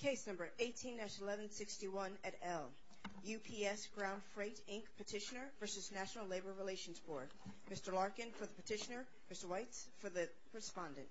Case number 18-1161 at L. UPS Ground Freight, Inc. petitioner v. National Labor Relations Board. Mr. Larkin for the petitioner, Mr. Weitz for the respondent. Mr. Weitz for the respondent.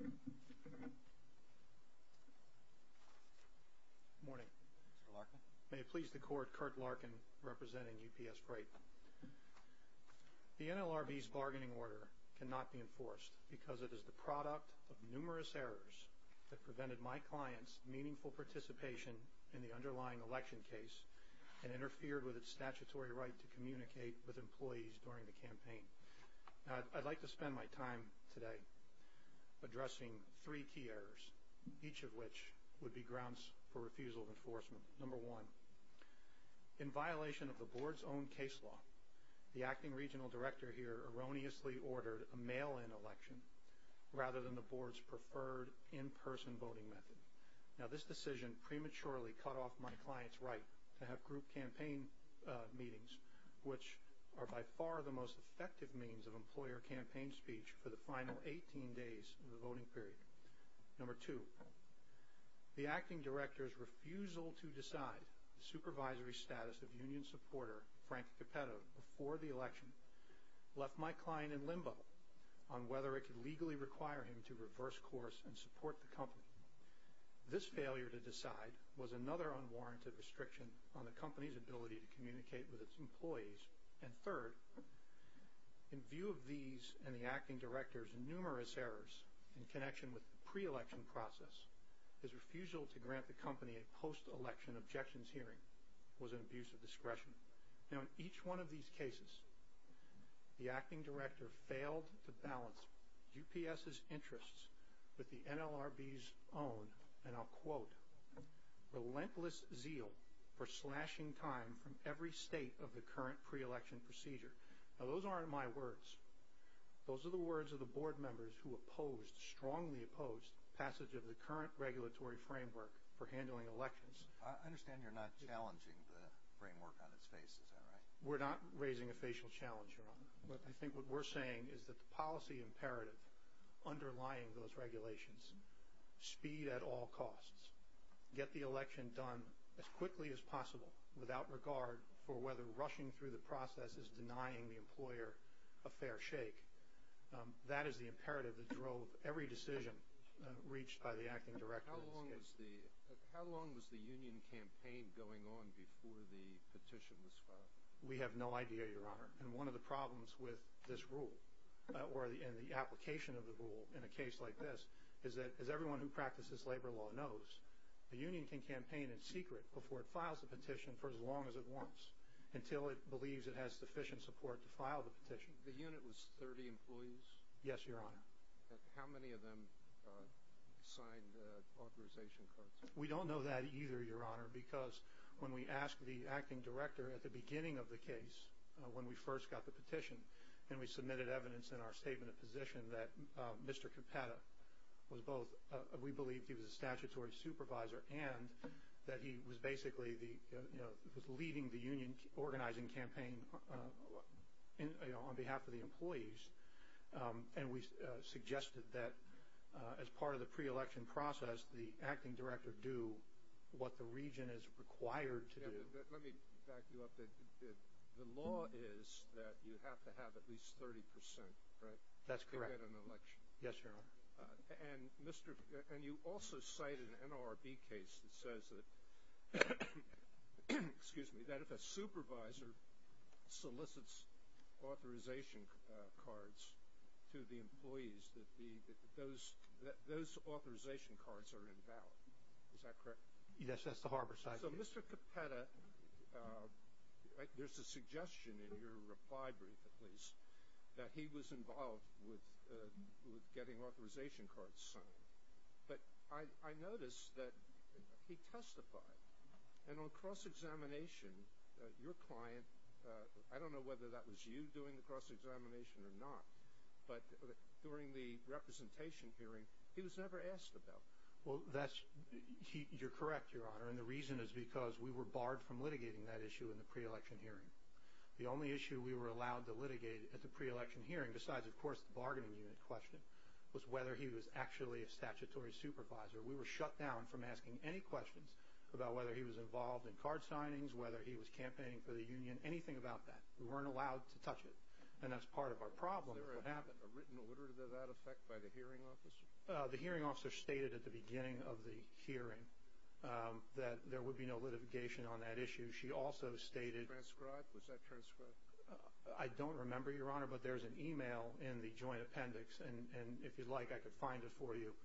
Mr. Larkin. Good morning. Mr. Larkin. May it please the Court, Kurt Larkin representing UPS Freight. The NLRB's bargaining order cannot be enforced because it is the product of numerous errors that prevented my client's meaningful participation in the underlying election case and interfered with its statutory right to communicate with employees during the campaign. I'd like to spend my time today addressing three key errors, each of which would be grounds for refusal of enforcement. Number one, in violation of the Board's own case law, the acting regional director here erroneously ordered a mail-in election rather than the Board's preferred in-person voting method. Now, this decision prematurely cut off my client's right to have group campaign meetings, which are by far the most effective means of employer campaign speech for the final 18 days of the voting period. Number two, the acting director's refusal to decide the supervisory status of union supporter Frank Capetto before the election left my client in limbo on whether it could legally require him to reverse course and support the company. This failure to decide was another unwarranted restriction on the company's ability to communicate with its employees. And third, in view of these and the acting director's numerous errors in connection with the pre-election process, his refusal to grant the company a post-election objections hearing was an abuse of discretion. Now, in each one of these cases, the acting director failed to balance UPS's interests with the NLRB's own, and I'll quote, relentless zeal for slashing time from every state of the current pre-election procedure. Now, those aren't my words. Those are the words of the board members who opposed, strongly opposed, passage of the current regulatory framework for handling elections. I understand you're not challenging the framework on its face. Is that right? We're not raising a facial challenge, Your Honor. But I think what we're saying is that the policy imperative underlying those regulations, without regard for whether rushing through the process is denying the employer a fair shake, that is the imperative that drove every decision reached by the acting director in this case. How long was the union campaign going on before the petition was filed? We have no idea, Your Honor. And one of the problems with this rule or in the application of the rule in a case like this is that, as everyone who practices labor law knows, the union can campaign in secret before it files a petition for as long as it wants until it believes it has sufficient support to file the petition. The unit was 30 employees? Yes, Your Honor. How many of them signed authorization cards? We don't know that either, Your Honor, because when we asked the acting director at the beginning of the case when we first got the petition and we submitted evidence in our statement of position that Mr. Capata was both we believed he was a statutory supervisor and that he was basically leading the union organizing campaign on behalf of the employees, and we suggested that as part of the pre-election process the acting director do what the region is required to do. Let me back you up. The law is that you have to have at least 30%, right? That's correct. To get an election. Yes, Your Honor. And you also cite an NLRB case that says that if a supervisor solicits authorization cards to the employees, that those authorization cards are invalid. Is that correct? Yes, that's the Harborside case. So Mr. Capata, there's a suggestion in your reply brief at least that he was involved with getting authorization cards signed, but I noticed that he testified. And on cross-examination, your client, I don't know whether that was you doing the cross-examination or not, but during the representation hearing, he was never asked about it. Well, you're correct, Your Honor, and the reason is because we were barred from litigating that issue in the pre-election hearing. The only issue we were allowed to litigate at the pre-election hearing, besides, of course, the bargaining unit question, was whether he was actually a statutory supervisor. We were shut down from asking any questions about whether he was involved in card signings, whether he was campaigning for the union, anything about that. We weren't allowed to touch it, and that's part of our problem. Was there a written order to that effect by the hearing officer? The hearing officer stated at the beginning of the hearing that there would be no litigation on that issue. She also stated— Transcribed? Was that transcribed? I don't remember, Your Honor, but there's an e-mail in the joint appendix, and if you'd like, I could find it for you,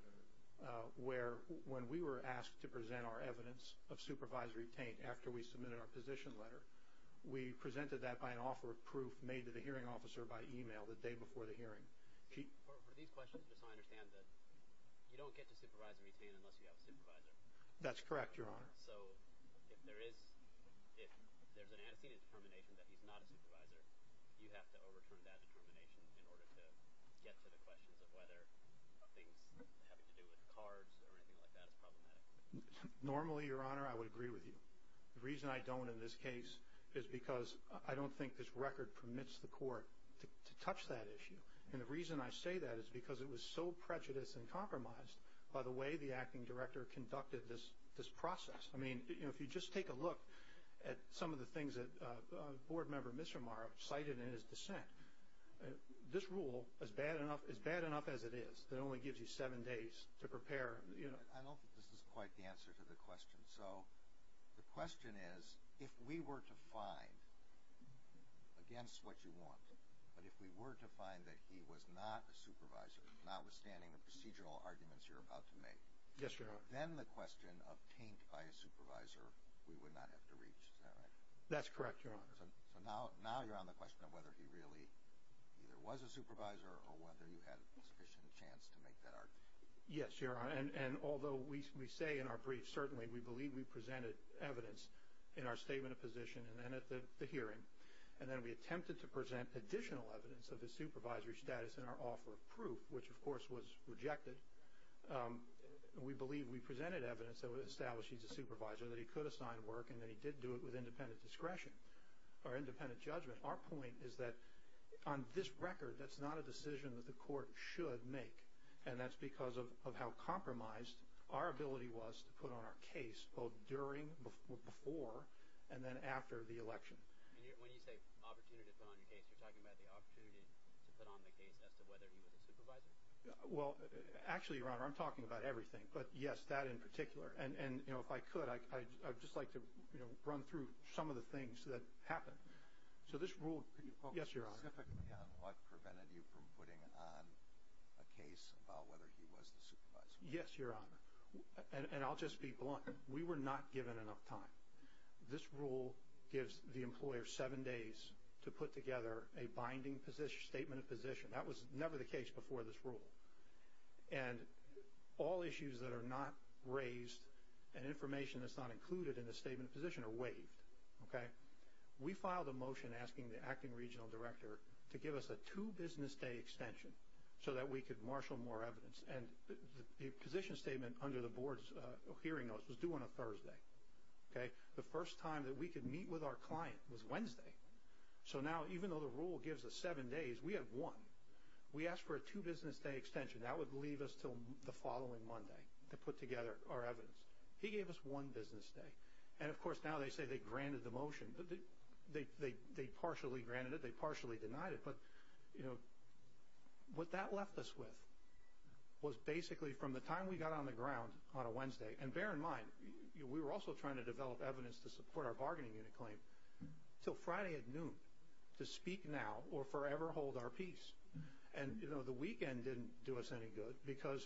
where when we were asked to present our evidence of supervisory taint after we submitted our position letter, we presented that by an offer of proof made to the hearing officer by e-mail the day before the hearing. For these questions, just so I understand, you don't get to supervisory taint unless you have a supervisor? That's correct, Your Honor. So if there's an antecedent determination that he's not a supervisor, do you have to overturn that determination in order to get to the questions of whether things having to do with cards or anything like that is problematic? Normally, Your Honor, I would agree with you. The reason I don't in this case is because I don't think this record permits the court to touch that issue, and the reason I say that is because it was so prejudiced and compromised by the way the acting director conducted this process. I mean, if you just take a look at some of the things that Board Member Mishramar cited in his dissent, this rule, as bad enough as it is, it only gives you seven days to prepare. I don't think this is quite the answer to the question. So the question is, if we were to find against what you want, but if we were to find that he was not a supervisor, notwithstanding the procedural arguments you're about to make, then the question of taint by a supervisor we would not have to reach. Is that right? That's correct, Your Honor. So now you're on the question of whether he really either was a supervisor or whether you had sufficient chance to make that argument. Yes, Your Honor, and although we say in our brief, certainly, we believe we presented evidence in our statement of position and then at the hearing, and then we attempted to present additional evidence of his supervisory status in our offer of proof, which, of course, was rejected. We believe we presented evidence that would establish he's a supervisor, that he could assign work, and that he did do it with independent discretion or independent judgment. Our point is that on this record, that's not a decision that the court should make, and that's because of how compromised our ability was to put on our case both during, before, and then after the election. When you say opportunity to put on your case, you're talking about the opportunity to put on the case as to whether he was a supervisor? Well, actually, Your Honor, I'm talking about everything, but, yes, that in particular. And, you know, if I could, I'd just like to run through some of the things that happened. So this rule, yes, Your Honor. Specifically on what prevented you from putting on a case about whether he was the supervisor? Yes, Your Honor, and I'll just be blunt. We were not given enough time. This rule gives the employer seven days to put together a binding statement of position. That was never the case before this rule. And all issues that are not raised and information that's not included in the statement of position are waived, okay? We filed a motion asking the acting regional director to give us a two-business-day extension so that we could marshal more evidence. And the position statement under the board's hearing notes was due on a Thursday, okay? The first time that we could meet with our client was Wednesday. So now, even though the rule gives us seven days, we have one. We asked for a two-business-day extension. That would leave us until the following Monday to put together our evidence. He gave us one business day. And, of course, now they say they granted the motion. They partially granted it. They partially denied it. But, you know, what that left us with was basically from the time we got on the ground on a Wednesday, and bear in mind we were also trying to develop evidence to support our bargaining unit claim, until Friday at noon to speak now or forever hold our peace. And, you know, the weekend didn't do us any good because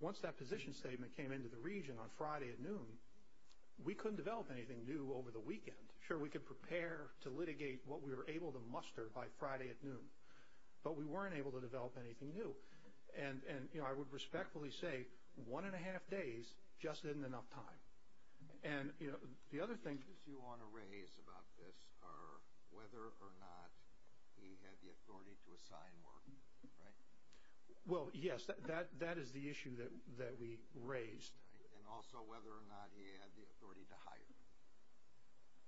once that position statement came into the region on Friday at noon, we couldn't develop anything new over the weekend. Sure, we could prepare to litigate what we were able to muster by Friday at noon, but we weren't able to develop anything new. And, you know, I would respectfully say one-and-a-half days just isn't enough time. And, you know, the other thing you want to raise about this are whether or not he had the authority to assign work, right? Well, yes, that is the issue that we raised. And also whether or not he had the authority to hire.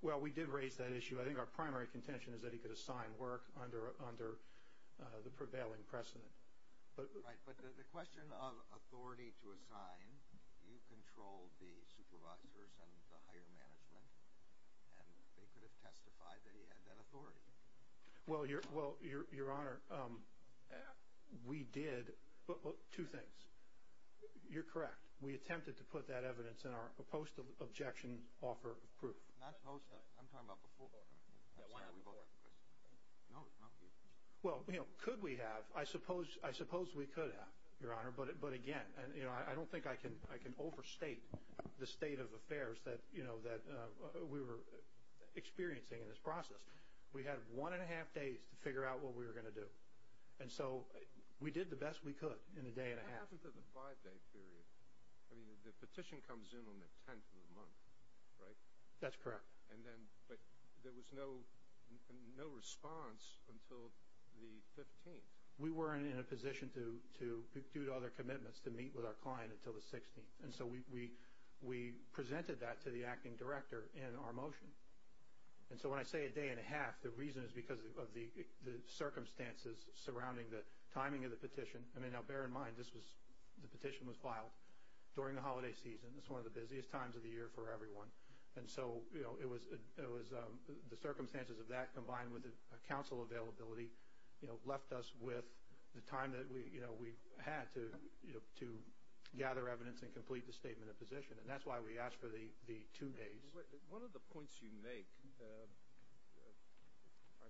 Well, we did raise that issue. I think our primary contention is that he could assign work under the prevailing precedent. Right, but the question of authority to assign, you controlled the supervisors and the hire management, and they could have testified that he had that authority. Well, Your Honor, we did two things. You're correct. We attempted to put that evidence in our post-objection offer of proof. Not post-objection. I'm talking about before. Well, you know, could we have? I suppose we could have, Your Honor, but again, you know, I don't think I can overstate the state of affairs that, you know, that we were experiencing in this process. We had one-and-a-half days to figure out what we were going to do. And so we did the best we could in a day-and-a-half. What happened to the five-day period? I mean, the petition comes in on the 10th of the month, right? That's correct. But there was no response until the 15th. We weren't in a position, due to other commitments, to meet with our client until the 16th. And so we presented that to the acting director in our motion. And so when I say a day-and-a-half, the reason is because of the circumstances surrounding the timing of the petition. I mean, now, bear in mind, this was the petition was filed during the holiday season. It's one of the busiest times of the year for everyone. And so, you know, it was the circumstances of that combined with a council availability, you know, left us with the time that we, you know, we had to gather evidence and complete the statement of position. And that's why we asked for the two days. One of the points you make, I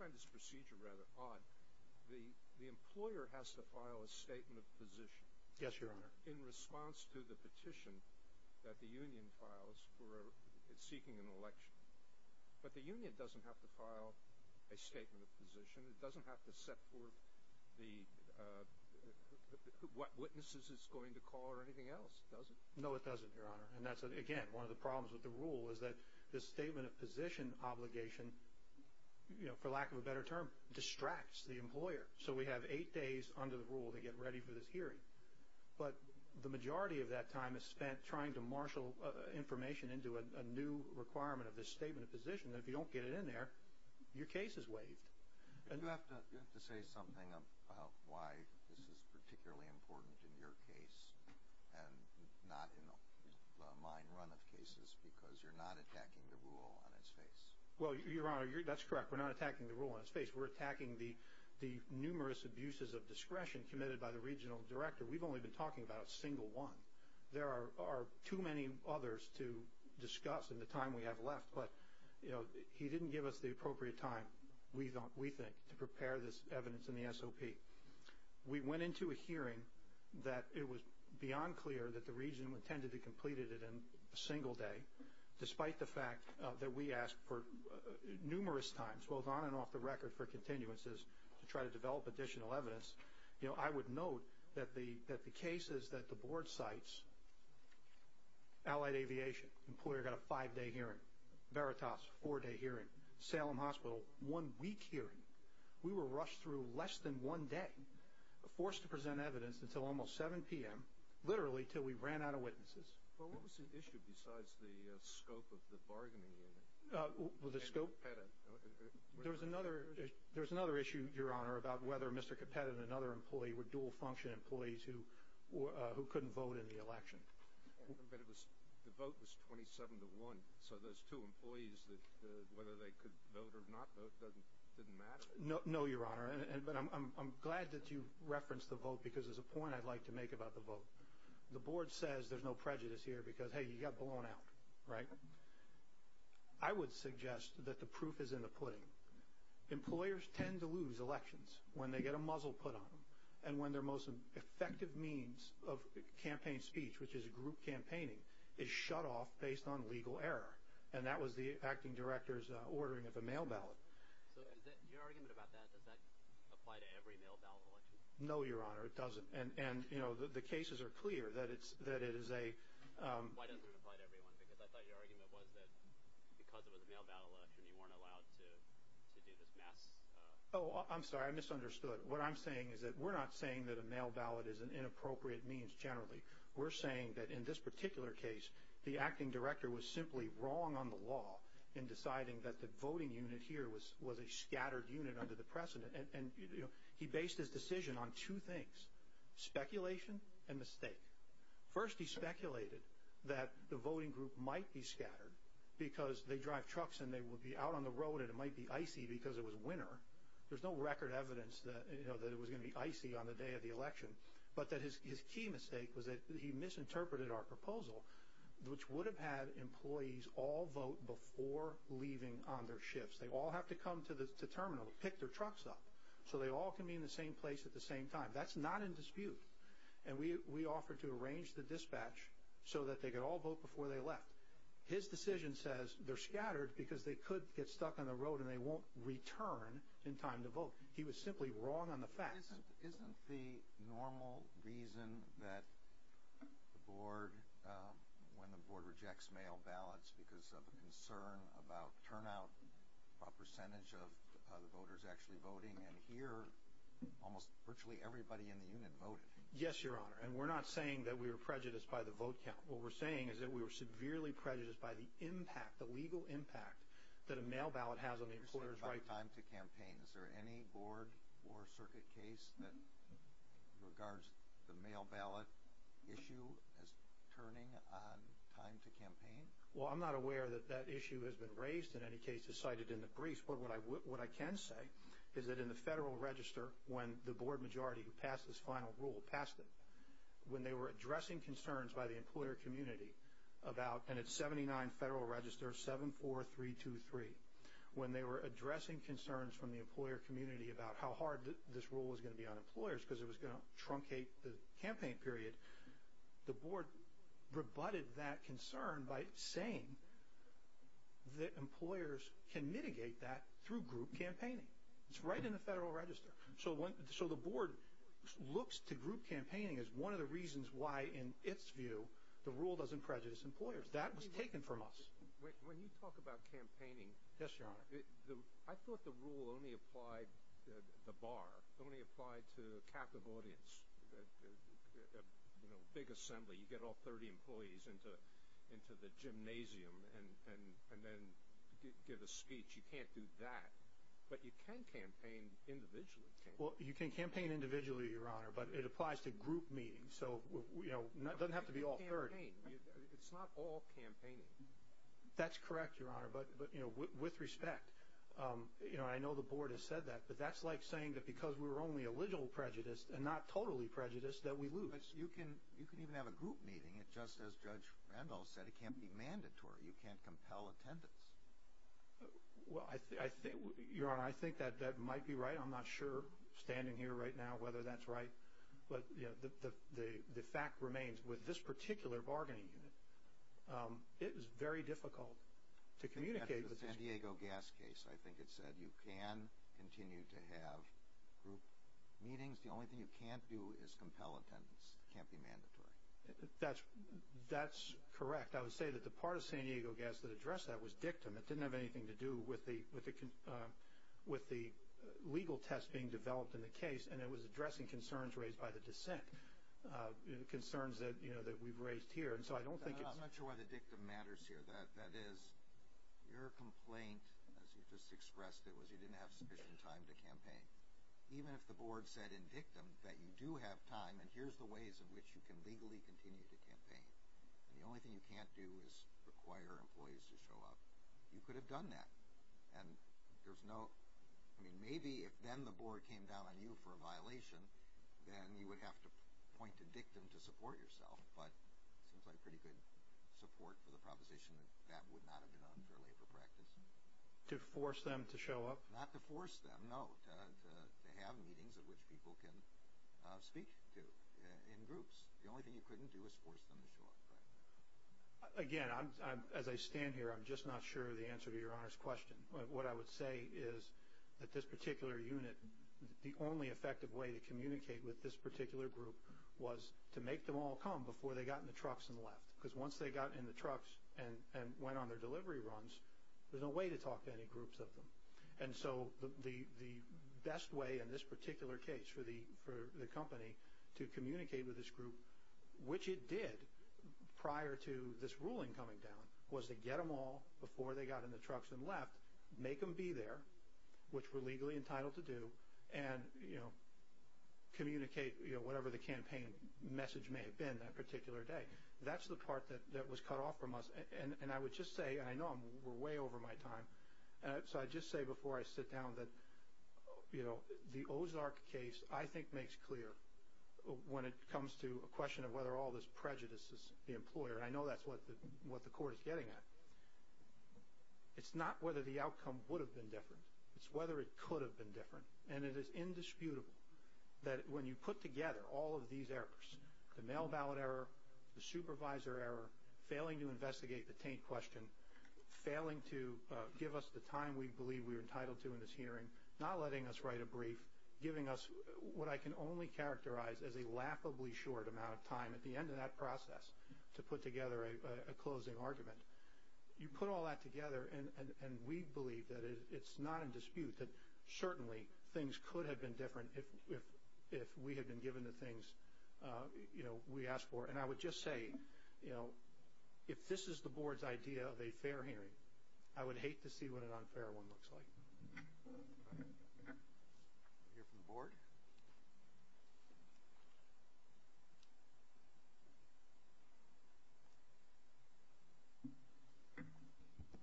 find this procedure rather odd. The employer has to file a statement of position. Yes, Your Honor. In response to the petition that the union files for seeking an election. But the union doesn't have to file a statement of position. It doesn't have to set forth what witnesses it's going to call or anything else, does it? No, it doesn't, Your Honor. And that's, again, one of the problems with the rule is that this statement of position obligation, you know, for lack of a better term, distracts the employer. So we have eight days under the rule to get ready for this hearing. But the majority of that time is spent trying to marshal information into a new requirement of this statement of position. And if you don't get it in there, your case is waived. You have to say something about why this is particularly important in your case and not in the mine run of cases because you're not attacking the rule on its face. Well, Your Honor, that's correct. We're not attacking the rule on its face. We're attacking the numerous abuses of discretion committed by the regional director. We've only been talking about a single one. There are too many others to discuss in the time we have left. But, you know, he didn't give us the appropriate time, we think, to prepare this evidence in the SOP. We went into a hearing that it was beyond clear that the region intended to complete it in a single day, despite the fact that we asked for numerous times, both on and off the record for continuances, to try to develop additional evidence. You know, I would note that the cases that the Board cites, Allied Aviation, employer got a five-day hearing. Veritas, four-day hearing. Salem Hospital, one-week hearing. We were rushed through less than one day, forced to present evidence until almost 7 p.m., literally until we ran out of witnesses. Well, what was the issue besides the scope of the bargaining? The scope? There was another issue, Your Honor, about whether Mr. Capetta and another employee were dual-function employees who couldn't vote in the election. But the vote was 27 to 1, so those two employees, whether they could vote or not vote didn't matter? No, Your Honor, but I'm glad that you referenced the vote because there's a point I'd like to make about the vote. The Board says there's no prejudice here because, hey, you got blown out, right? I would suggest that the proof is in the pudding. Employers tend to lose elections when they get a muzzle put on them and when their most effective means of campaign speech, which is group campaigning, is shut off based on legal error, and that was the acting director's ordering of a mail ballot. So your argument about that, does that apply to every mail ballot election? No, Your Honor, it doesn't. And, you know, the cases are clear that it is a— Why doesn't it apply to everyone? Because I thought your argument was that because it was a mail ballot election you weren't allowed to do this mass— Oh, I'm sorry, I misunderstood. What I'm saying is that we're not saying that a mail ballot is an inappropriate means generally. We're saying that in this particular case, the acting director was simply wrong on the law in deciding that the voting unit here was a scattered unit under the precedent. And, you know, he based his decision on two things, speculation and mistake. First, he speculated that the voting group might be scattered because they drive trucks and they would be out on the road and it might be icy because it was winter. There's no record evidence that it was going to be icy on the day of the election. But his key mistake was that he misinterpreted our proposal, which would have had employees all vote before leaving on their shifts. They all have to come to the terminal, pick their trucks up, so they all can be in the same place at the same time. That's not in dispute. And we offered to arrange the dispatch so that they could all vote before they left. His decision says they're scattered because they could get stuck on the road and they won't return in time to vote. He was simply wrong on the facts. Isn't the normal reason that the board— when the board rejects mail ballots because of concern about turnout, about percentage of the voters actually voting, and here almost virtually everybody in the unit voted. Yes, Your Honor. And we're not saying that we were prejudiced by the vote count. What we're saying is that we were severely prejudiced by the impact, the legal impact that a mail ballot has on the employer's right to campaign. Is there any board or circuit case that regards the mail ballot issue as turning on time to campaign? Well, I'm not aware that that issue has been raised. In any case, it's cited in the briefs. But what I can say is that in the Federal Register, when the board majority who passed this final rule passed it, when they were addressing concerns by the employer community about— and it's 79 Federal Register, 74323. When they were addressing concerns from the employer community about how hard this rule was going to be on employers because it was going to truncate the campaign period, the board rebutted that concern by saying that employers can mitigate that through group campaigning. It's right in the Federal Register. So the board looks to group campaigning as one of the reasons why, in its view, the rule doesn't prejudice employers. That was taken from us. When you talk about campaigning— Yes, Your Honor. I thought the rule only applied—the bar— the rule only applied to a captive audience, a big assembly. You get all 30 employees into the gymnasium and then give a speech. You can't do that. But you can campaign individually. Well, you can campaign individually, Your Honor, but it applies to group meetings. So it doesn't have to be all 30. But you can campaign. It's not all campaigning. That's correct, Your Honor, but with respect. I know the board has said that, but that's like saying that because we're only a little prejudiced and not totally prejudiced, that we lose. But you can even have a group meeting. Just as Judge Randall said, it can't be mandatory. You can't compel attendance. Well, Your Honor, I think that might be right. I'm not sure, standing here right now, whether that's right. But the fact remains, with this particular bargaining unit, it is very difficult to communicate. In the San Diego gas case, I think it said you can continue to have group meetings. The only thing you can't do is compel attendance. It can't be mandatory. That's correct. I would say that the part of San Diego gas that addressed that was dictum. It didn't have anything to do with the legal test being developed in the case, and it was addressing concerns raised by the dissent, concerns that we've raised here. I'm not sure why the dictum matters here. That is, your complaint, as you just expressed it, was you didn't have sufficient time to campaign. Even if the board said in dictum that you do have time and here's the ways in which you can legally continue to campaign, and the only thing you can't do is require employees to show up, you could have done that. And there's no – I mean, maybe if then the board came down on you for a violation, then you would have to point to dictum to support yourself. But it seems like pretty good support for the proposition that that would not have been unfair labor practice. To force them to show up? Not to force them, no, to have meetings at which people can speak to in groups. The only thing you couldn't do is force them to show up. Again, as I stand here, I'm just not sure of the answer to your Honor's question. What I would say is that this particular unit, the only effective way to communicate with this particular group was to make them all come before they got in the trucks and left. Because once they got in the trucks and went on their delivery runs, there's no way to talk to any groups of them. And so the best way in this particular case for the company to communicate with this group, which it did prior to this ruling coming down, was to get them all before they got in the trucks and left, make them be there, which we're legally entitled to do, and communicate whatever the campaign message may have been that particular day. That's the part that was cut off from us. And I would just say, and I know we're way over my time, so I'd just say before I sit down that the Ozark case, I think, makes clear when it comes to a question of whether all this prejudice is the employer. I know that's what the Court is getting at. It's not whether the outcome would have been different. It's whether it could have been different. And it is indisputable that when you put together all of these errors, the mail ballot error, the supervisor error, failing to investigate the taint question, failing to give us the time we believe we're entitled to in this hearing, not letting us write a brief, giving us what I can only characterize as a laughably short amount of time at the end of that process to put together a closing argument. You put all that together, and we believe that it's not in dispute that certainly things could have been different if we had been given the things we asked for. And I would just say, if this is the Board's idea of a fair hearing, I would hate to see what an unfair one looks like. All right. We'll hear from the Board.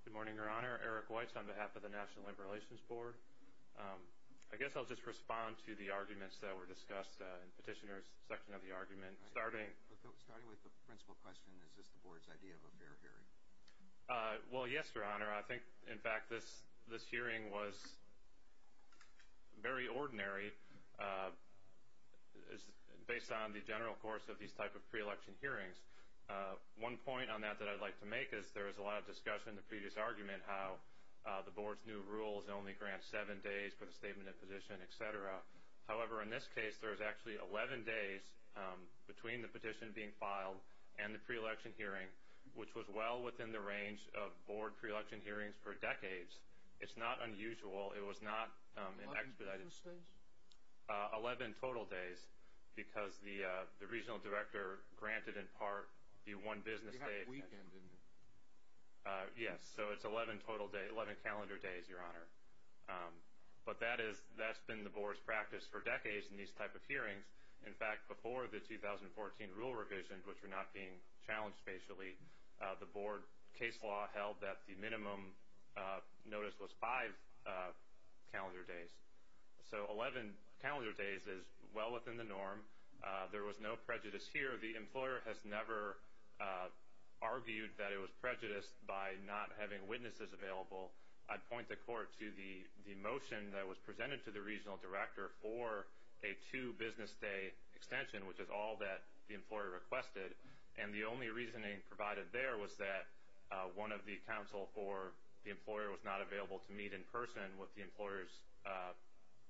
Good morning, Your Honor. Eric Weitz on behalf of the National Labor Relations Board. I guess I'll just respond to the arguments that were discussed in Petitioner's section of the argument. Starting with the principal question, is this the Board's idea of a fair hearing? Well, yes, Your Honor. I think, in fact, this hearing was very ordinary based on the general course of these type of pre-election hearings. One point on that that I'd like to make is there was a lot of discussion in the previous argument how the Board's new rules only grant seven days for the statement of position, et cetera. However, in this case, there's actually 11 days between the petition being filed and the pre-election hearing, which was well within the range of Board pre-election hearings for decades. It's not unusual. It was not expedited. Eleven business days? Eleven total days because the regional director granted in part the one business day. You had a weekend, didn't you? Yes. So it's 11 calendar days, Your Honor. But that's been the Board's practice for decades in these type of hearings. In fact, before the 2014 rule revision, which were not being challenged spatially, the Board case law held that the minimum notice was five calendar days. So 11 calendar days is well within the norm. There was no prejudice here. The employer has never argued that it was prejudiced by not having witnesses available. I'd point the Court to the motion that was presented to the regional director for a two business day extension, which is all that the employer requested. And the only reasoning provided there was that one of the counsel for the employer was not available to meet in person with the employer's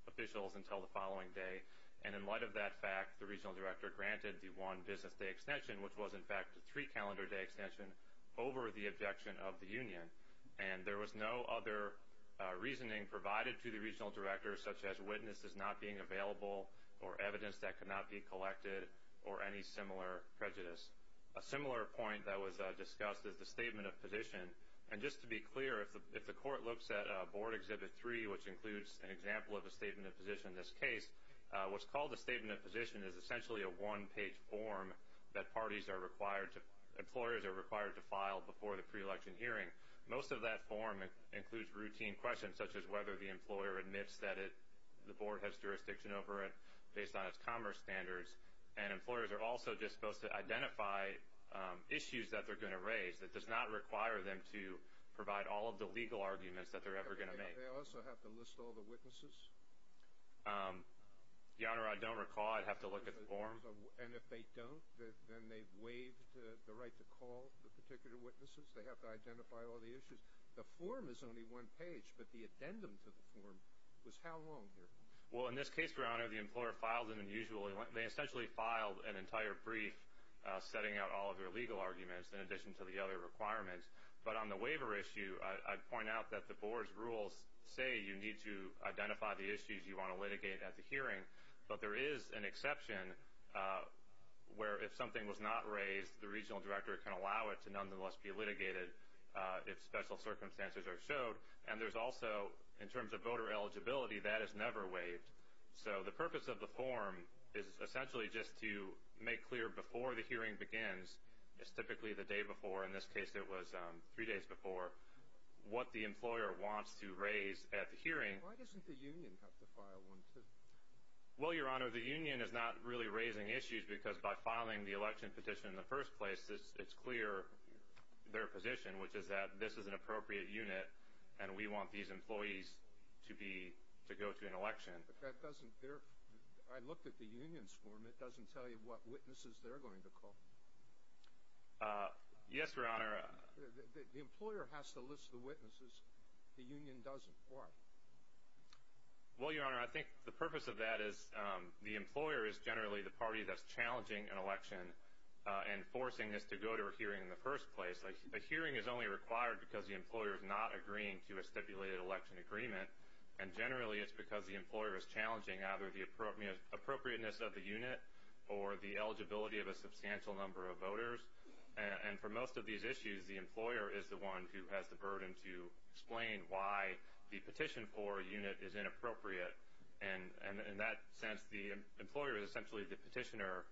officials until the following day. And in light of that fact, the regional director granted the one business day extension, which was, in fact, a three calendar day extension over the objection of the union. And there was no other reasoning provided to the regional director, such as witnesses not being available or evidence that could not be collected or any similar prejudice. A similar point that was discussed is the statement of position. And just to be clear, if the Court looks at Board Exhibit 3, which includes an example of a statement of position in this case, what's called a statement of position is essentially a one-page form that parties are required to employers are required to file before the pre-election hearing. Most of that form includes routine questions, such as whether the employer admits that the board has jurisdiction over it based on its commerce standards. And employers are also just supposed to identify issues that they're going to raise. It does not require them to provide all of the legal arguments that they're ever going to make. They also have to list all the witnesses? Your Honor, I don't recall. I'd have to look at the form. And if they don't, then they've waived the right to call the particular witnesses? They have to identify all the issues? The form is only one page, but the addendum to the form was how long here? Well, in this case, Your Honor, the employer filed an unusually long one. They essentially filed an entire brief setting out all of their legal arguments in addition to the other requirements. But on the waiver issue, I'd point out that the board's rules say you need to identify the issues you want to litigate at the hearing. But there is an exception where if something was not raised, the regional director can allow it to nonetheless be litigated if special circumstances are showed. And there's also, in terms of voter eligibility, that is never waived. So the purpose of the form is essentially just to make clear before the hearing begins. It's typically the day before. In this case, it was three days before. What the employer wants to raise at the hearing. Why doesn't the union have to file one, too? Well, Your Honor, the union is not really raising issues because by filing the election petition in the first place, it's clear their position, which is that this is an appropriate unit and we want these employees to go to an election. I looked at the union's form. It doesn't tell you what witnesses they're going to call. Yes, Your Honor. The employer has to list the witnesses. The union doesn't. Why? Well, Your Honor, I think the purpose of that is the employer is generally the party that's challenging an election and forcing us to go to a hearing in the first place. A hearing is only required because the employer is not agreeing to a stipulated election agreement, and generally it's because the employer is challenging either the appropriateness of the unit or the eligibility of a substantial number of voters. And for most of these issues, the employer is the one who has the burden to explain why the petition for a unit is inappropriate. And in that sense, the employer is essentially the petitioner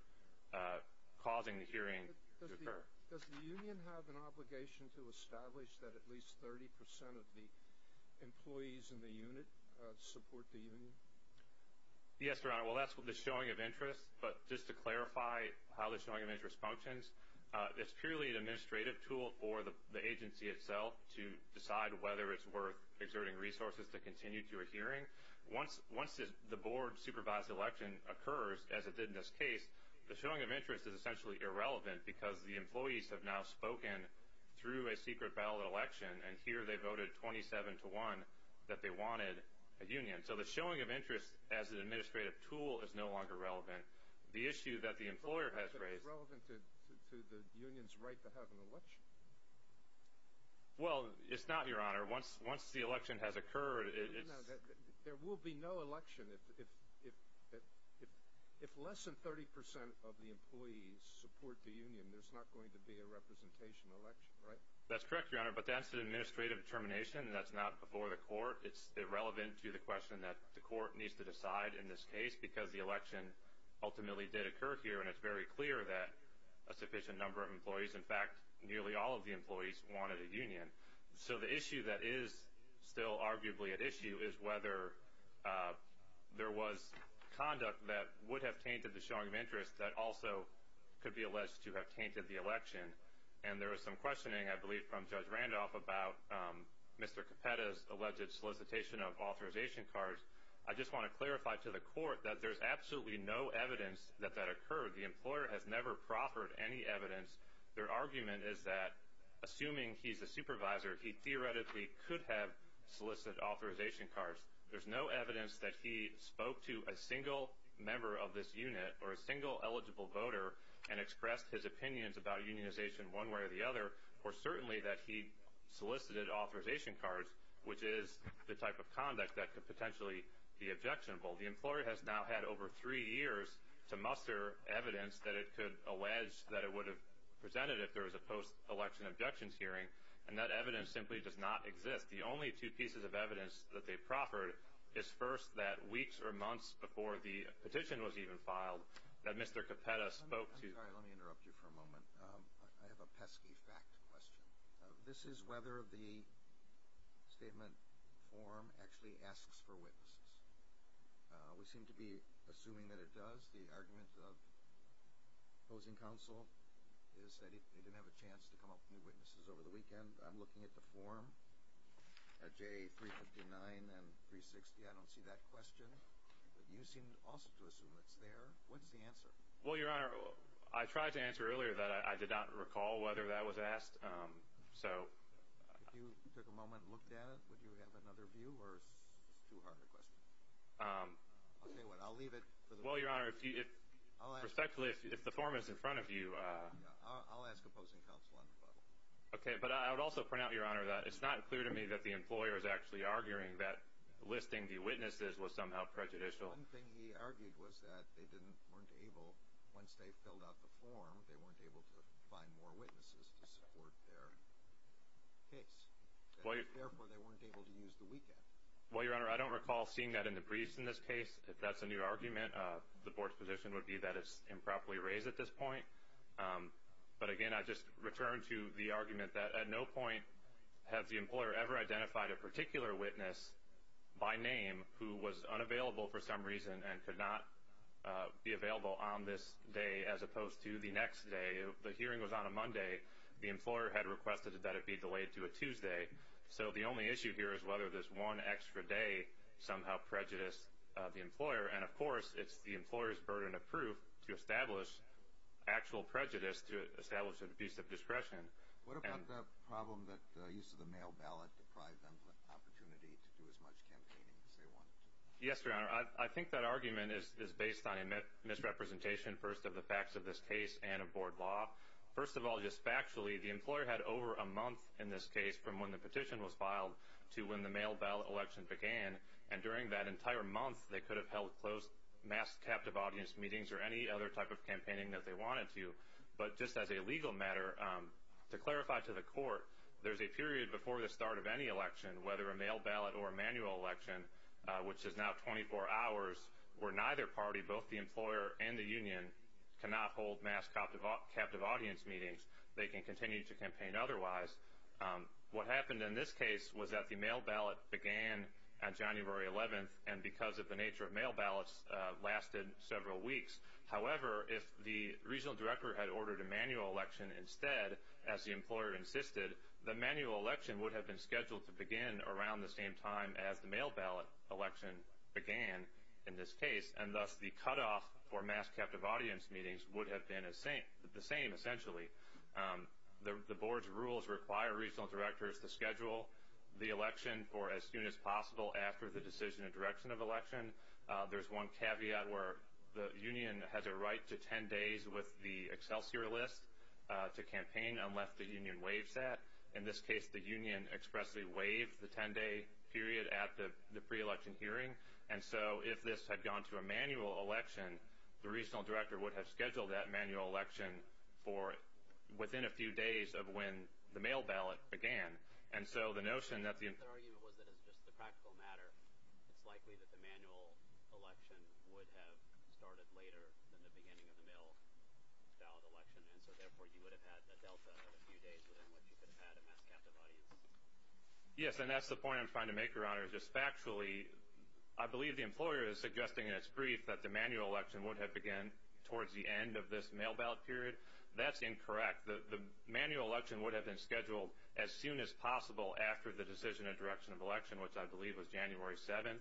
causing the hearing to occur. Does the union have an obligation to establish that at least 30 percent of the employees in the unit support the union? Yes, Your Honor. Well, that's the showing of interest. But just to clarify how the showing of interest functions, it's purely an administrative tool for the agency itself to decide whether it's worth exerting resources to continue to a hearing. Once the board-supervised election occurs, as it did in this case, the showing of interest is essentially irrelevant because the employees have now spoken through a secret ballot election, and here they voted 27 to 1 that they wanted a union. So the showing of interest as an administrative tool is no longer relevant. The issue that the employer has raised... But is it relevant to the union's right to have an election? Well, it's not, Your Honor. Once the election has occurred, it's... No, no, there will be no election. If less than 30 percent of the employees support the union, there's not going to be a representation election, right? That's correct, Your Honor, but that's an administrative determination. That's not before the court. It's irrelevant to the question that the court needs to decide in this case because the election ultimately did occur here, and it's very clear that a sufficient number of employees, in fact, nearly all of the employees, wanted a union. So the issue that is still arguably at issue is whether there was conduct that would have tainted the showing of interest that also could be alleged to have tainted the election. And there was some questioning, I believe, from Judge Randolph about Mr. Capetta's alleged solicitation of authorization cards. I just want to clarify to the court that there's absolutely no evidence that that occurred. The employer has never proffered any evidence. Their argument is that, assuming he's a supervisor, he theoretically could have solicited authorization cards. There's no evidence that he spoke to a single member of this unit or a single eligible voter and expressed his opinions about unionization one way or the other, or certainly that he solicited authorization cards, which is the type of conduct that could potentially be objectionable. The employer has now had over three years to muster evidence that it could allege that it would have presented if there was a post-election objections hearing, and that evidence simply does not exist. The only two pieces of evidence that they proffered is, first, that weeks or months before the petition was even filed, that Mr. Capetta spoke to. I'm sorry, let me interrupt you for a moment. I have a pesky fact question. This is whether the statement form actually asks for witnesses. We seem to be assuming that it does. The argument of opposing counsel is that it didn't have a chance to come up with witnesses over the weekend. I'm looking at the form at J359 and 360. I don't see that question. You seem also to assume it's there. What's the answer? Well, Your Honor, I tried to answer earlier that I did not recall whether that was asked. If you took a moment and looked at it, would you have another view, or is this too hard a question? I'll tell you what, I'll leave it. Well, Your Honor, respectfully, if the form is in front of you. I'll ask opposing counsel on the problem. Okay, but I would also point out, Your Honor, that it's not clear to me that the employer is actually arguing that listing the witnesses was somehow prejudicial. One thing he argued was that they weren't able, once they filled out the form, they weren't able to find more witnesses to support their case. Therefore, they weren't able to use the weekend. Well, Your Honor, I don't recall seeing that in the briefs in this case. If that's a new argument, the Board's position would be that it's improperly raised at this point. But, again, I just return to the argument that at no point has the employer ever identified a particular witness by name who was unavailable for some reason and could not be available on this day as opposed to the next day. The hearing was on a Monday. The employer had requested that it be delayed to a Tuesday. So the only issue here is whether this one extra day somehow prejudiced the employer. And, of course, it's the employer's burden of proof to establish actual prejudice, to establish an abuse of discretion. What about the problem that the use of the mail ballot deprived them of the opportunity to do as much campaigning as they wanted? Yes, Your Honor. I think that argument is based on a misrepresentation, first, of the facts of this case and of Board law. First of all, just factually, the employer had over a month in this case from when the petition was filed to when the mail ballot election began. And during that entire month, they could have held closed mass captive audience meetings or any other type of campaigning that they wanted to. But just as a legal matter, to clarify to the court, there's a period before the start of any election, whether a mail ballot or a manual election, which is now 24 hours, where neither party, both the employer and the union, cannot hold mass captive audience meetings. They can continue to campaign otherwise. What happened in this case was that the mail ballot began on January 11th, and because of the nature of mail ballots, lasted several weeks. However, if the regional director had ordered a manual election instead, as the employer insisted, the manual election would have been scheduled to begin around the same time as the mail ballot election began in this case, and thus the cutoff for mass captive audience meetings would have been the same, essentially. The board's rules require regional directors to schedule the election for as soon as possible after the decision and direction of election. There's one caveat where the union has a right to 10 days with the Excelsior list to campaign unless the union waives that. In this case, the union expressly waived the 10-day period at the pre-election hearing. And so if this had gone to a manual election, the regional director would have scheduled that manual election for within a few days of when the mail ballot began. And so the notion that the— The argument was that it's just a practical matter. It's likely that the manual election would have started later than the beginning of the mail ballot election, and so therefore you would have had a delta of a few days within which you could have had a mass captive audience. Yes, and that's the point I'm trying to make, Your Honor. Just factually, I believe the employer is suggesting in its brief that the manual election would have began towards the end of this mail ballot period. That's incorrect. The manual election would have been scheduled as soon as possible after the decision and direction of election, which I believe was January 7th.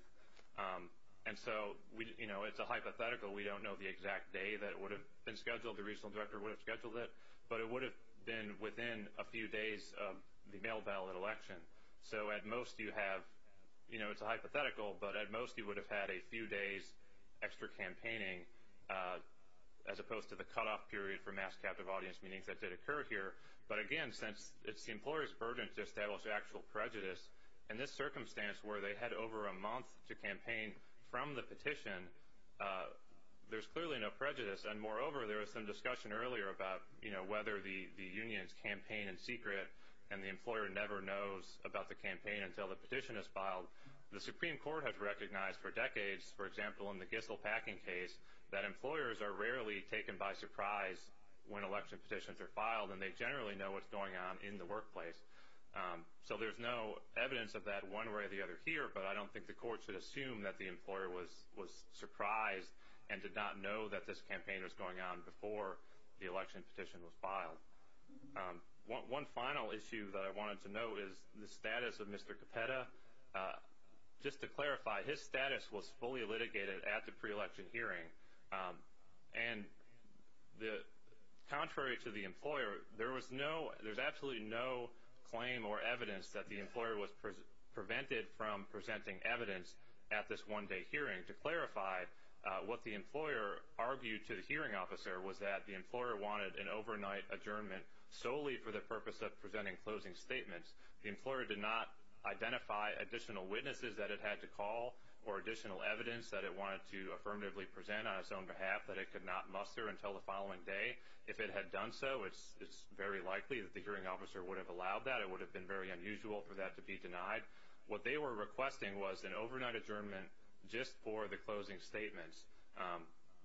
And so, you know, it's a hypothetical. We don't know the exact day that it would have been scheduled. The regional director would have scheduled it, but it would have been within a few days of the mail ballot election. So at most you have—you know, it's a hypothetical, but at most you would have had a few days extra campaigning, as opposed to the cutoff period for mass captive audience meetings that did occur here. But again, since it's the employer's burden to establish actual prejudice, in this circumstance where they had over a month to campaign from the petition, there's clearly no prejudice. And moreover, there was some discussion earlier about, you know, whether the unions campaign in secret and the employer never knows about the campaign until the petition is filed. The Supreme Court has recognized for decades, for example, in the Gissell Packing case, that employers are rarely taken by surprise when election petitions are filed, and they generally know what's going on in the workplace. So there's no evidence of that one way or the other here, but I don't think the court should assume that the employer was surprised and did not know that this campaign was going on before the election petition was filed. One final issue that I wanted to note is the status of Mr. Capetta. Just to clarify, his status was fully litigated at the pre-election hearing. And contrary to the employer, there was no— at this one-day hearing. To clarify, what the employer argued to the hearing officer was that the employer wanted an overnight adjournment solely for the purpose of presenting closing statements. The employer did not identify additional witnesses that it had to call or additional evidence that it wanted to affirmatively present on its own behalf that it could not muster until the following day. If it had done so, it's very likely that the hearing officer would have allowed that. It would have been very unusual for that to be denied. What they were requesting was an overnight adjournment just for the closing statements.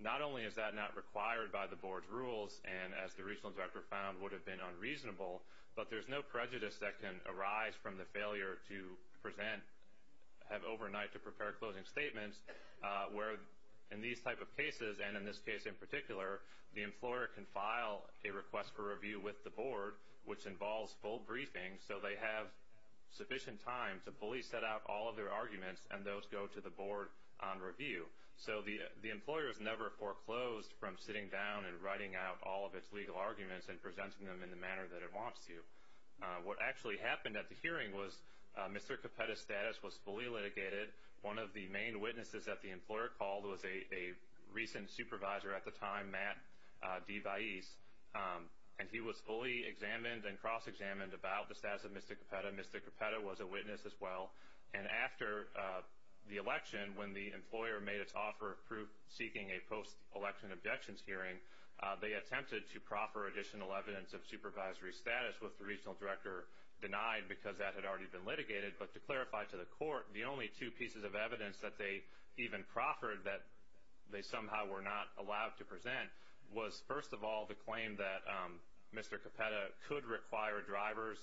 Not only is that not required by the board's rules, and as the regional director found, would have been unreasonable, but there's no prejudice that can arise from the failure to present— have overnight to prepare closing statements, where in these type of cases, and in this case in particular, the employer can file a request for review with the board, which involves full briefing so they have sufficient time to fully set out all of their arguments and those go to the board on review. So the employer is never foreclosed from sitting down and writing out all of its legal arguments and presenting them in the manner that it wants to. What actually happened at the hearing was Mr. Capetta's status was fully litigated. One of the main witnesses that the employer called was a recent supervisor at the time, Matt DeVaese, and he was fully examined and cross-examined about the status of Mr. Capetta. Mr. Capetta was a witness as well. And after the election, when the employer made its offer of seeking a post-election objections hearing, they attempted to proffer additional evidence of supervisory status, which the regional director denied because that had already been litigated. But to clarify to the court, the only two pieces of evidence that they even proffered that they somehow were not allowed to present was, first of all, the claim that Mr. Capetta could require drivers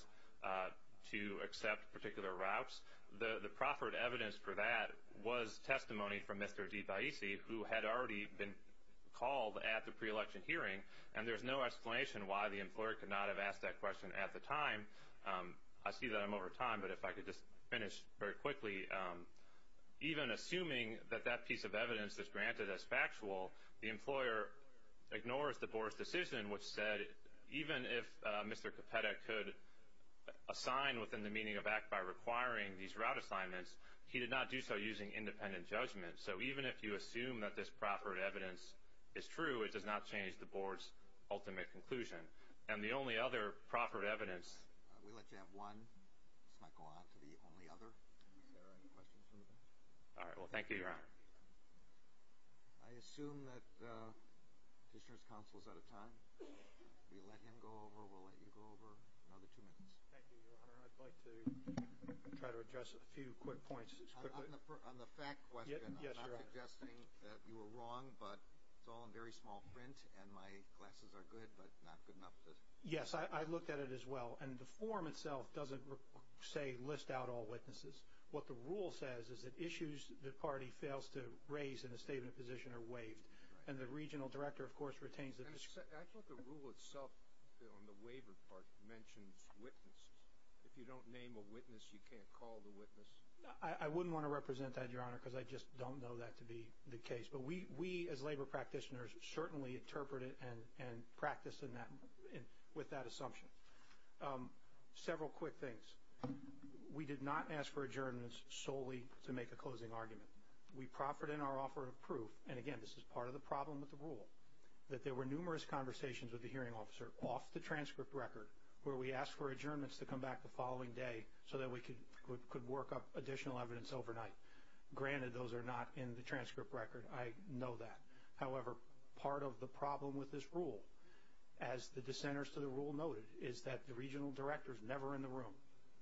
to accept particular routes. The proffered evidence for that was testimony from Mr. DeVaese, who had already been called at the pre-election hearing, and there's no explanation why the employer could not have asked that question at the time. I see that I'm over time, but if I could just finish very quickly. Even assuming that that piece of evidence is granted as factual, the employer ignores the Board's decision, which said even if Mr. Capetta could assign within the meaning of act by requiring these route assignments, he did not do so using independent judgment. So even if you assume that this proffered evidence is true, it does not change the Board's ultimate conclusion. And the only other proffered evidence. We'll let you have one. Let's not go on to the only other. Is there any questions from the panel? All right. Well, thank you, Your Honor. I assume that Petitioner's counsel is out of time. We'll let him go over. We'll let you go over. Another two minutes. Thank you, Your Honor. I'd like to try to address a few quick points. On the fact question, I'm not suggesting that you were wrong, but it's all in very small print and my glasses are good, but not good enough to. Yes, I looked at it as well. And the form itself doesn't say list out all witnesses. What the rule says is that issues the party fails to raise in a statement of position are waived. And the regional director, of course, retains the. I thought the rule itself on the waiver part mentions witnesses. If you don't name a witness, you can't call the witness. I wouldn't want to represent that, Your Honor, because I just don't know that to be the case. But we, as labor practitioners, certainly interpret it and practice with that assumption. Several quick things. We did not ask for adjournments solely to make a closing argument. We proffered in our offer of proof, and again, this is part of the problem with the rule, that there were numerous conversations with the hearing officer off the transcript record where we asked for adjournments to come back the following day so that we could work up additional evidence overnight. Granted, those are not in the transcript record. I know that. However, part of the problem with this rule, as the dissenters to the rule noted, is that the regional director is never in the room,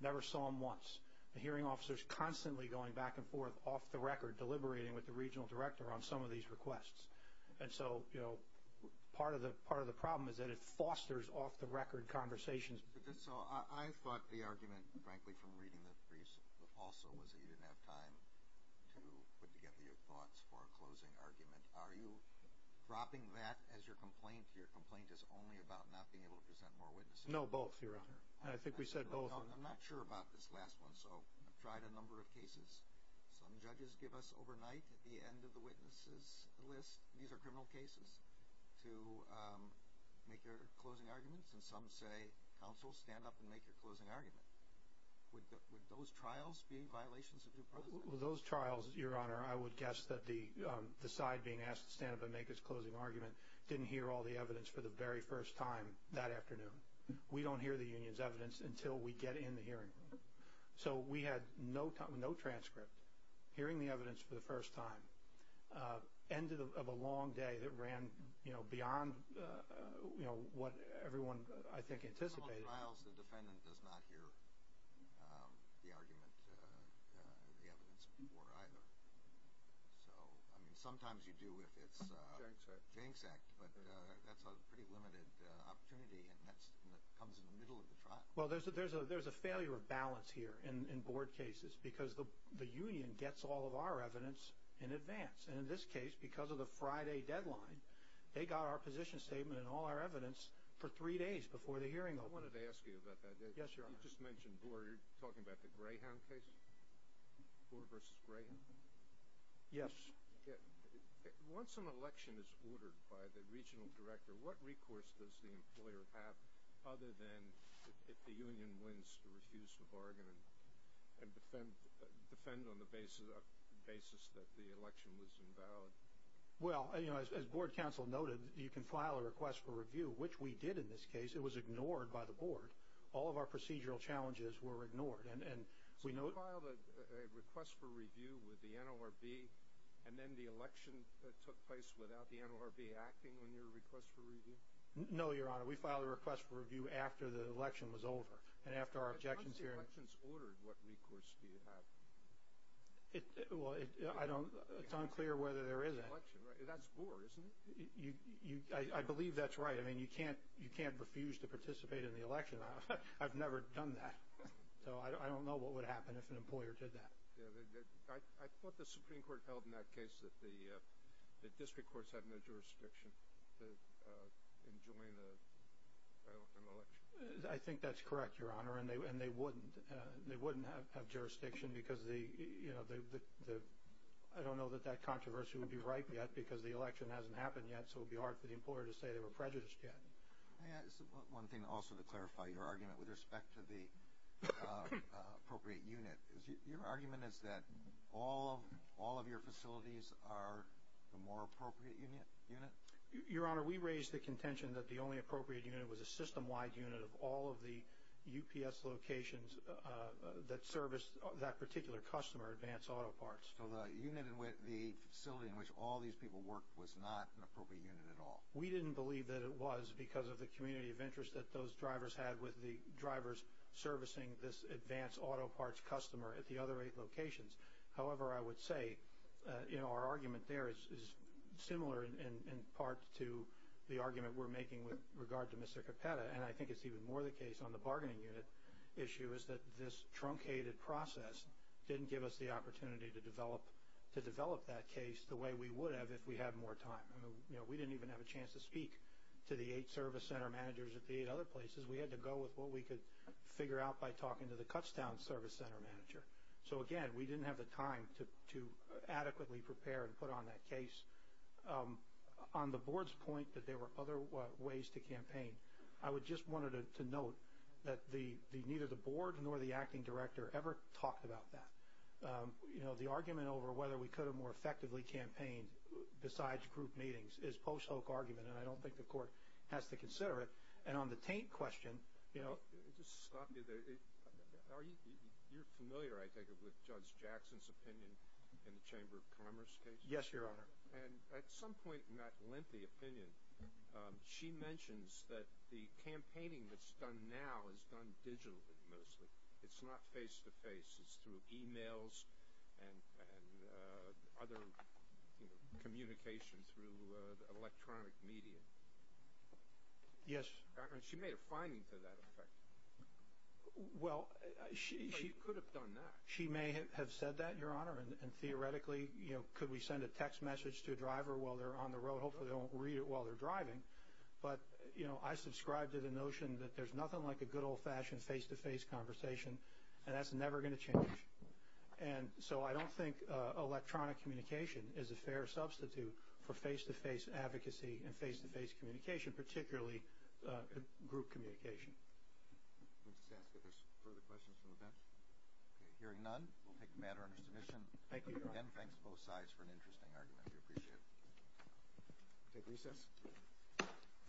never saw him once. The hearing officer is constantly going back and forth off the record, deliberating with the regional director on some of these requests. And so, you know, part of the problem is that it fosters off-the-record conversations. So I thought the argument, frankly, from reading the briefs also, was that you didn't have time to put together your thoughts for a closing argument. Are you dropping that as your complaint? Your complaint is only about not being able to present more witnesses. No, both, Your Honor. I think we said both. I'm not sure about this last one, so I've tried a number of cases. Some judges give us overnight at the end of the witnesses list, these are criminal cases, to make their closing arguments, and some say, counsel, stand up and make your closing argument. Would those trials be violations of due process? With those trials, Your Honor, I would guess that the side being asked to stand up and make its closing argument didn't hear all the evidence for the very first time that afternoon. We don't hear the union's evidence until we get in the hearing room. So we had no transcript. Hearing the evidence for the first time, end of a long day that ran beyond what everyone, I think, anticipated. In some of the trials, the defendant does not hear the argument, the evidence, before either. So, I mean, sometimes you do if it's a gang sect, but that's a pretty limited opportunity and that comes in the middle of the trial. Well, there's a failure of balance here in board cases because the union gets all of our evidence in advance. And in this case, because of the Friday deadline, they got our position statement and all our evidence for three days before the hearing. I wanted to ask you about that. Yes, Your Honor. You just mentioned board. You're talking about the Greyhound case? Board versus Greyhound? Yes. Once an election is ordered by the regional director, what recourse does the employer have other than if the union wins to refuse to bargain and defend on the basis that the election was invalid? Well, as board counsel noted, you can file a request for review, which we did in this case. It was ignored by the board. All of our procedural challenges were ignored. So you filed a request for review with the NLRB and then the election took place without the NLRB acting on your request for review? No, Your Honor. We filed a request for review after the election was over and after our objections hearing. If an election is ordered, what recourse do you have? Well, it's unclear whether there is an election. That's board, isn't it? I believe that's right. I mean, you can't refuse to participate in the election. I've never done that. So I don't know what would happen if an employer did that. I thought the Supreme Court held in that case that the district courts had no jurisdiction in joining an election. I think that's correct, Your Honor, and they wouldn't. They wouldn't have jurisdiction because, you know, I don't know that that controversy would be ripe yet because the election hasn't happened yet, so it would be hard for the employer to say they were prejudiced yet. May I add one thing also to clarify your argument with respect to the appropriate unit? Your argument is that all of your facilities are the more appropriate unit? Your Honor, we raised the contention that the only appropriate unit was a system-wide unit of all of the UPS locations that serviced that particular customer, Advanced Auto Parts. So the facility in which all these people worked was not an appropriate unit at all? We didn't believe that it was because of the community of interest that those drivers had with the drivers servicing this Advanced Auto Parts customer at the other eight locations. However, I would say, you know, our argument there is similar in part to the argument we're making with regard to Mr. Capetta, and I think it's even more the case on the bargaining unit issue is that this truncated process didn't give us the opportunity to develop that case the way we would have if we had more time. You know, we didn't even have a chance to speak to the eight service center managers at the eight other places. We had to go with what we could figure out by talking to the Cutstown service center manager. So, again, we didn't have the time to adequately prepare and put on that case. On the board's point that there were other ways to campaign, I just wanted to note that neither the board nor the acting director ever talked about that. You know, the argument over whether we could have more effectively campaigned besides group meetings is post-hoc argument, and I don't think the court has to consider it. And on the taint question, you know— Let me just stop you there. You're familiar, I take it, with Judge Jackson's opinion in the Chamber of Commerce case? Yes, Your Honor. And at some point in that lengthy opinion, she mentions that the campaigning that's done now is done digitally mostly. It's not face-to-face. It's through e-mails and other communications through electronic media. Yes. She made a finding to that effect. Well, she— She could have done that. She may have said that, Your Honor, and theoretically, you know, could we send a text message to a driver while they're on the road? Hopefully they won't read it while they're driving. But, you know, I subscribe to the notion that there's nothing like a good old-fashioned face-to-face conversation, and that's never going to change. And so I don't think electronic communication is a fair substitute for face-to-face advocacy and face-to-face communication, particularly group communication. Let me just ask if there's further questions from the bench. Okay, hearing none, we'll take the matter under submission. Thank you, Your Honor. Again, thanks to both sides for an interesting argument. We appreciate it. We'll take recess.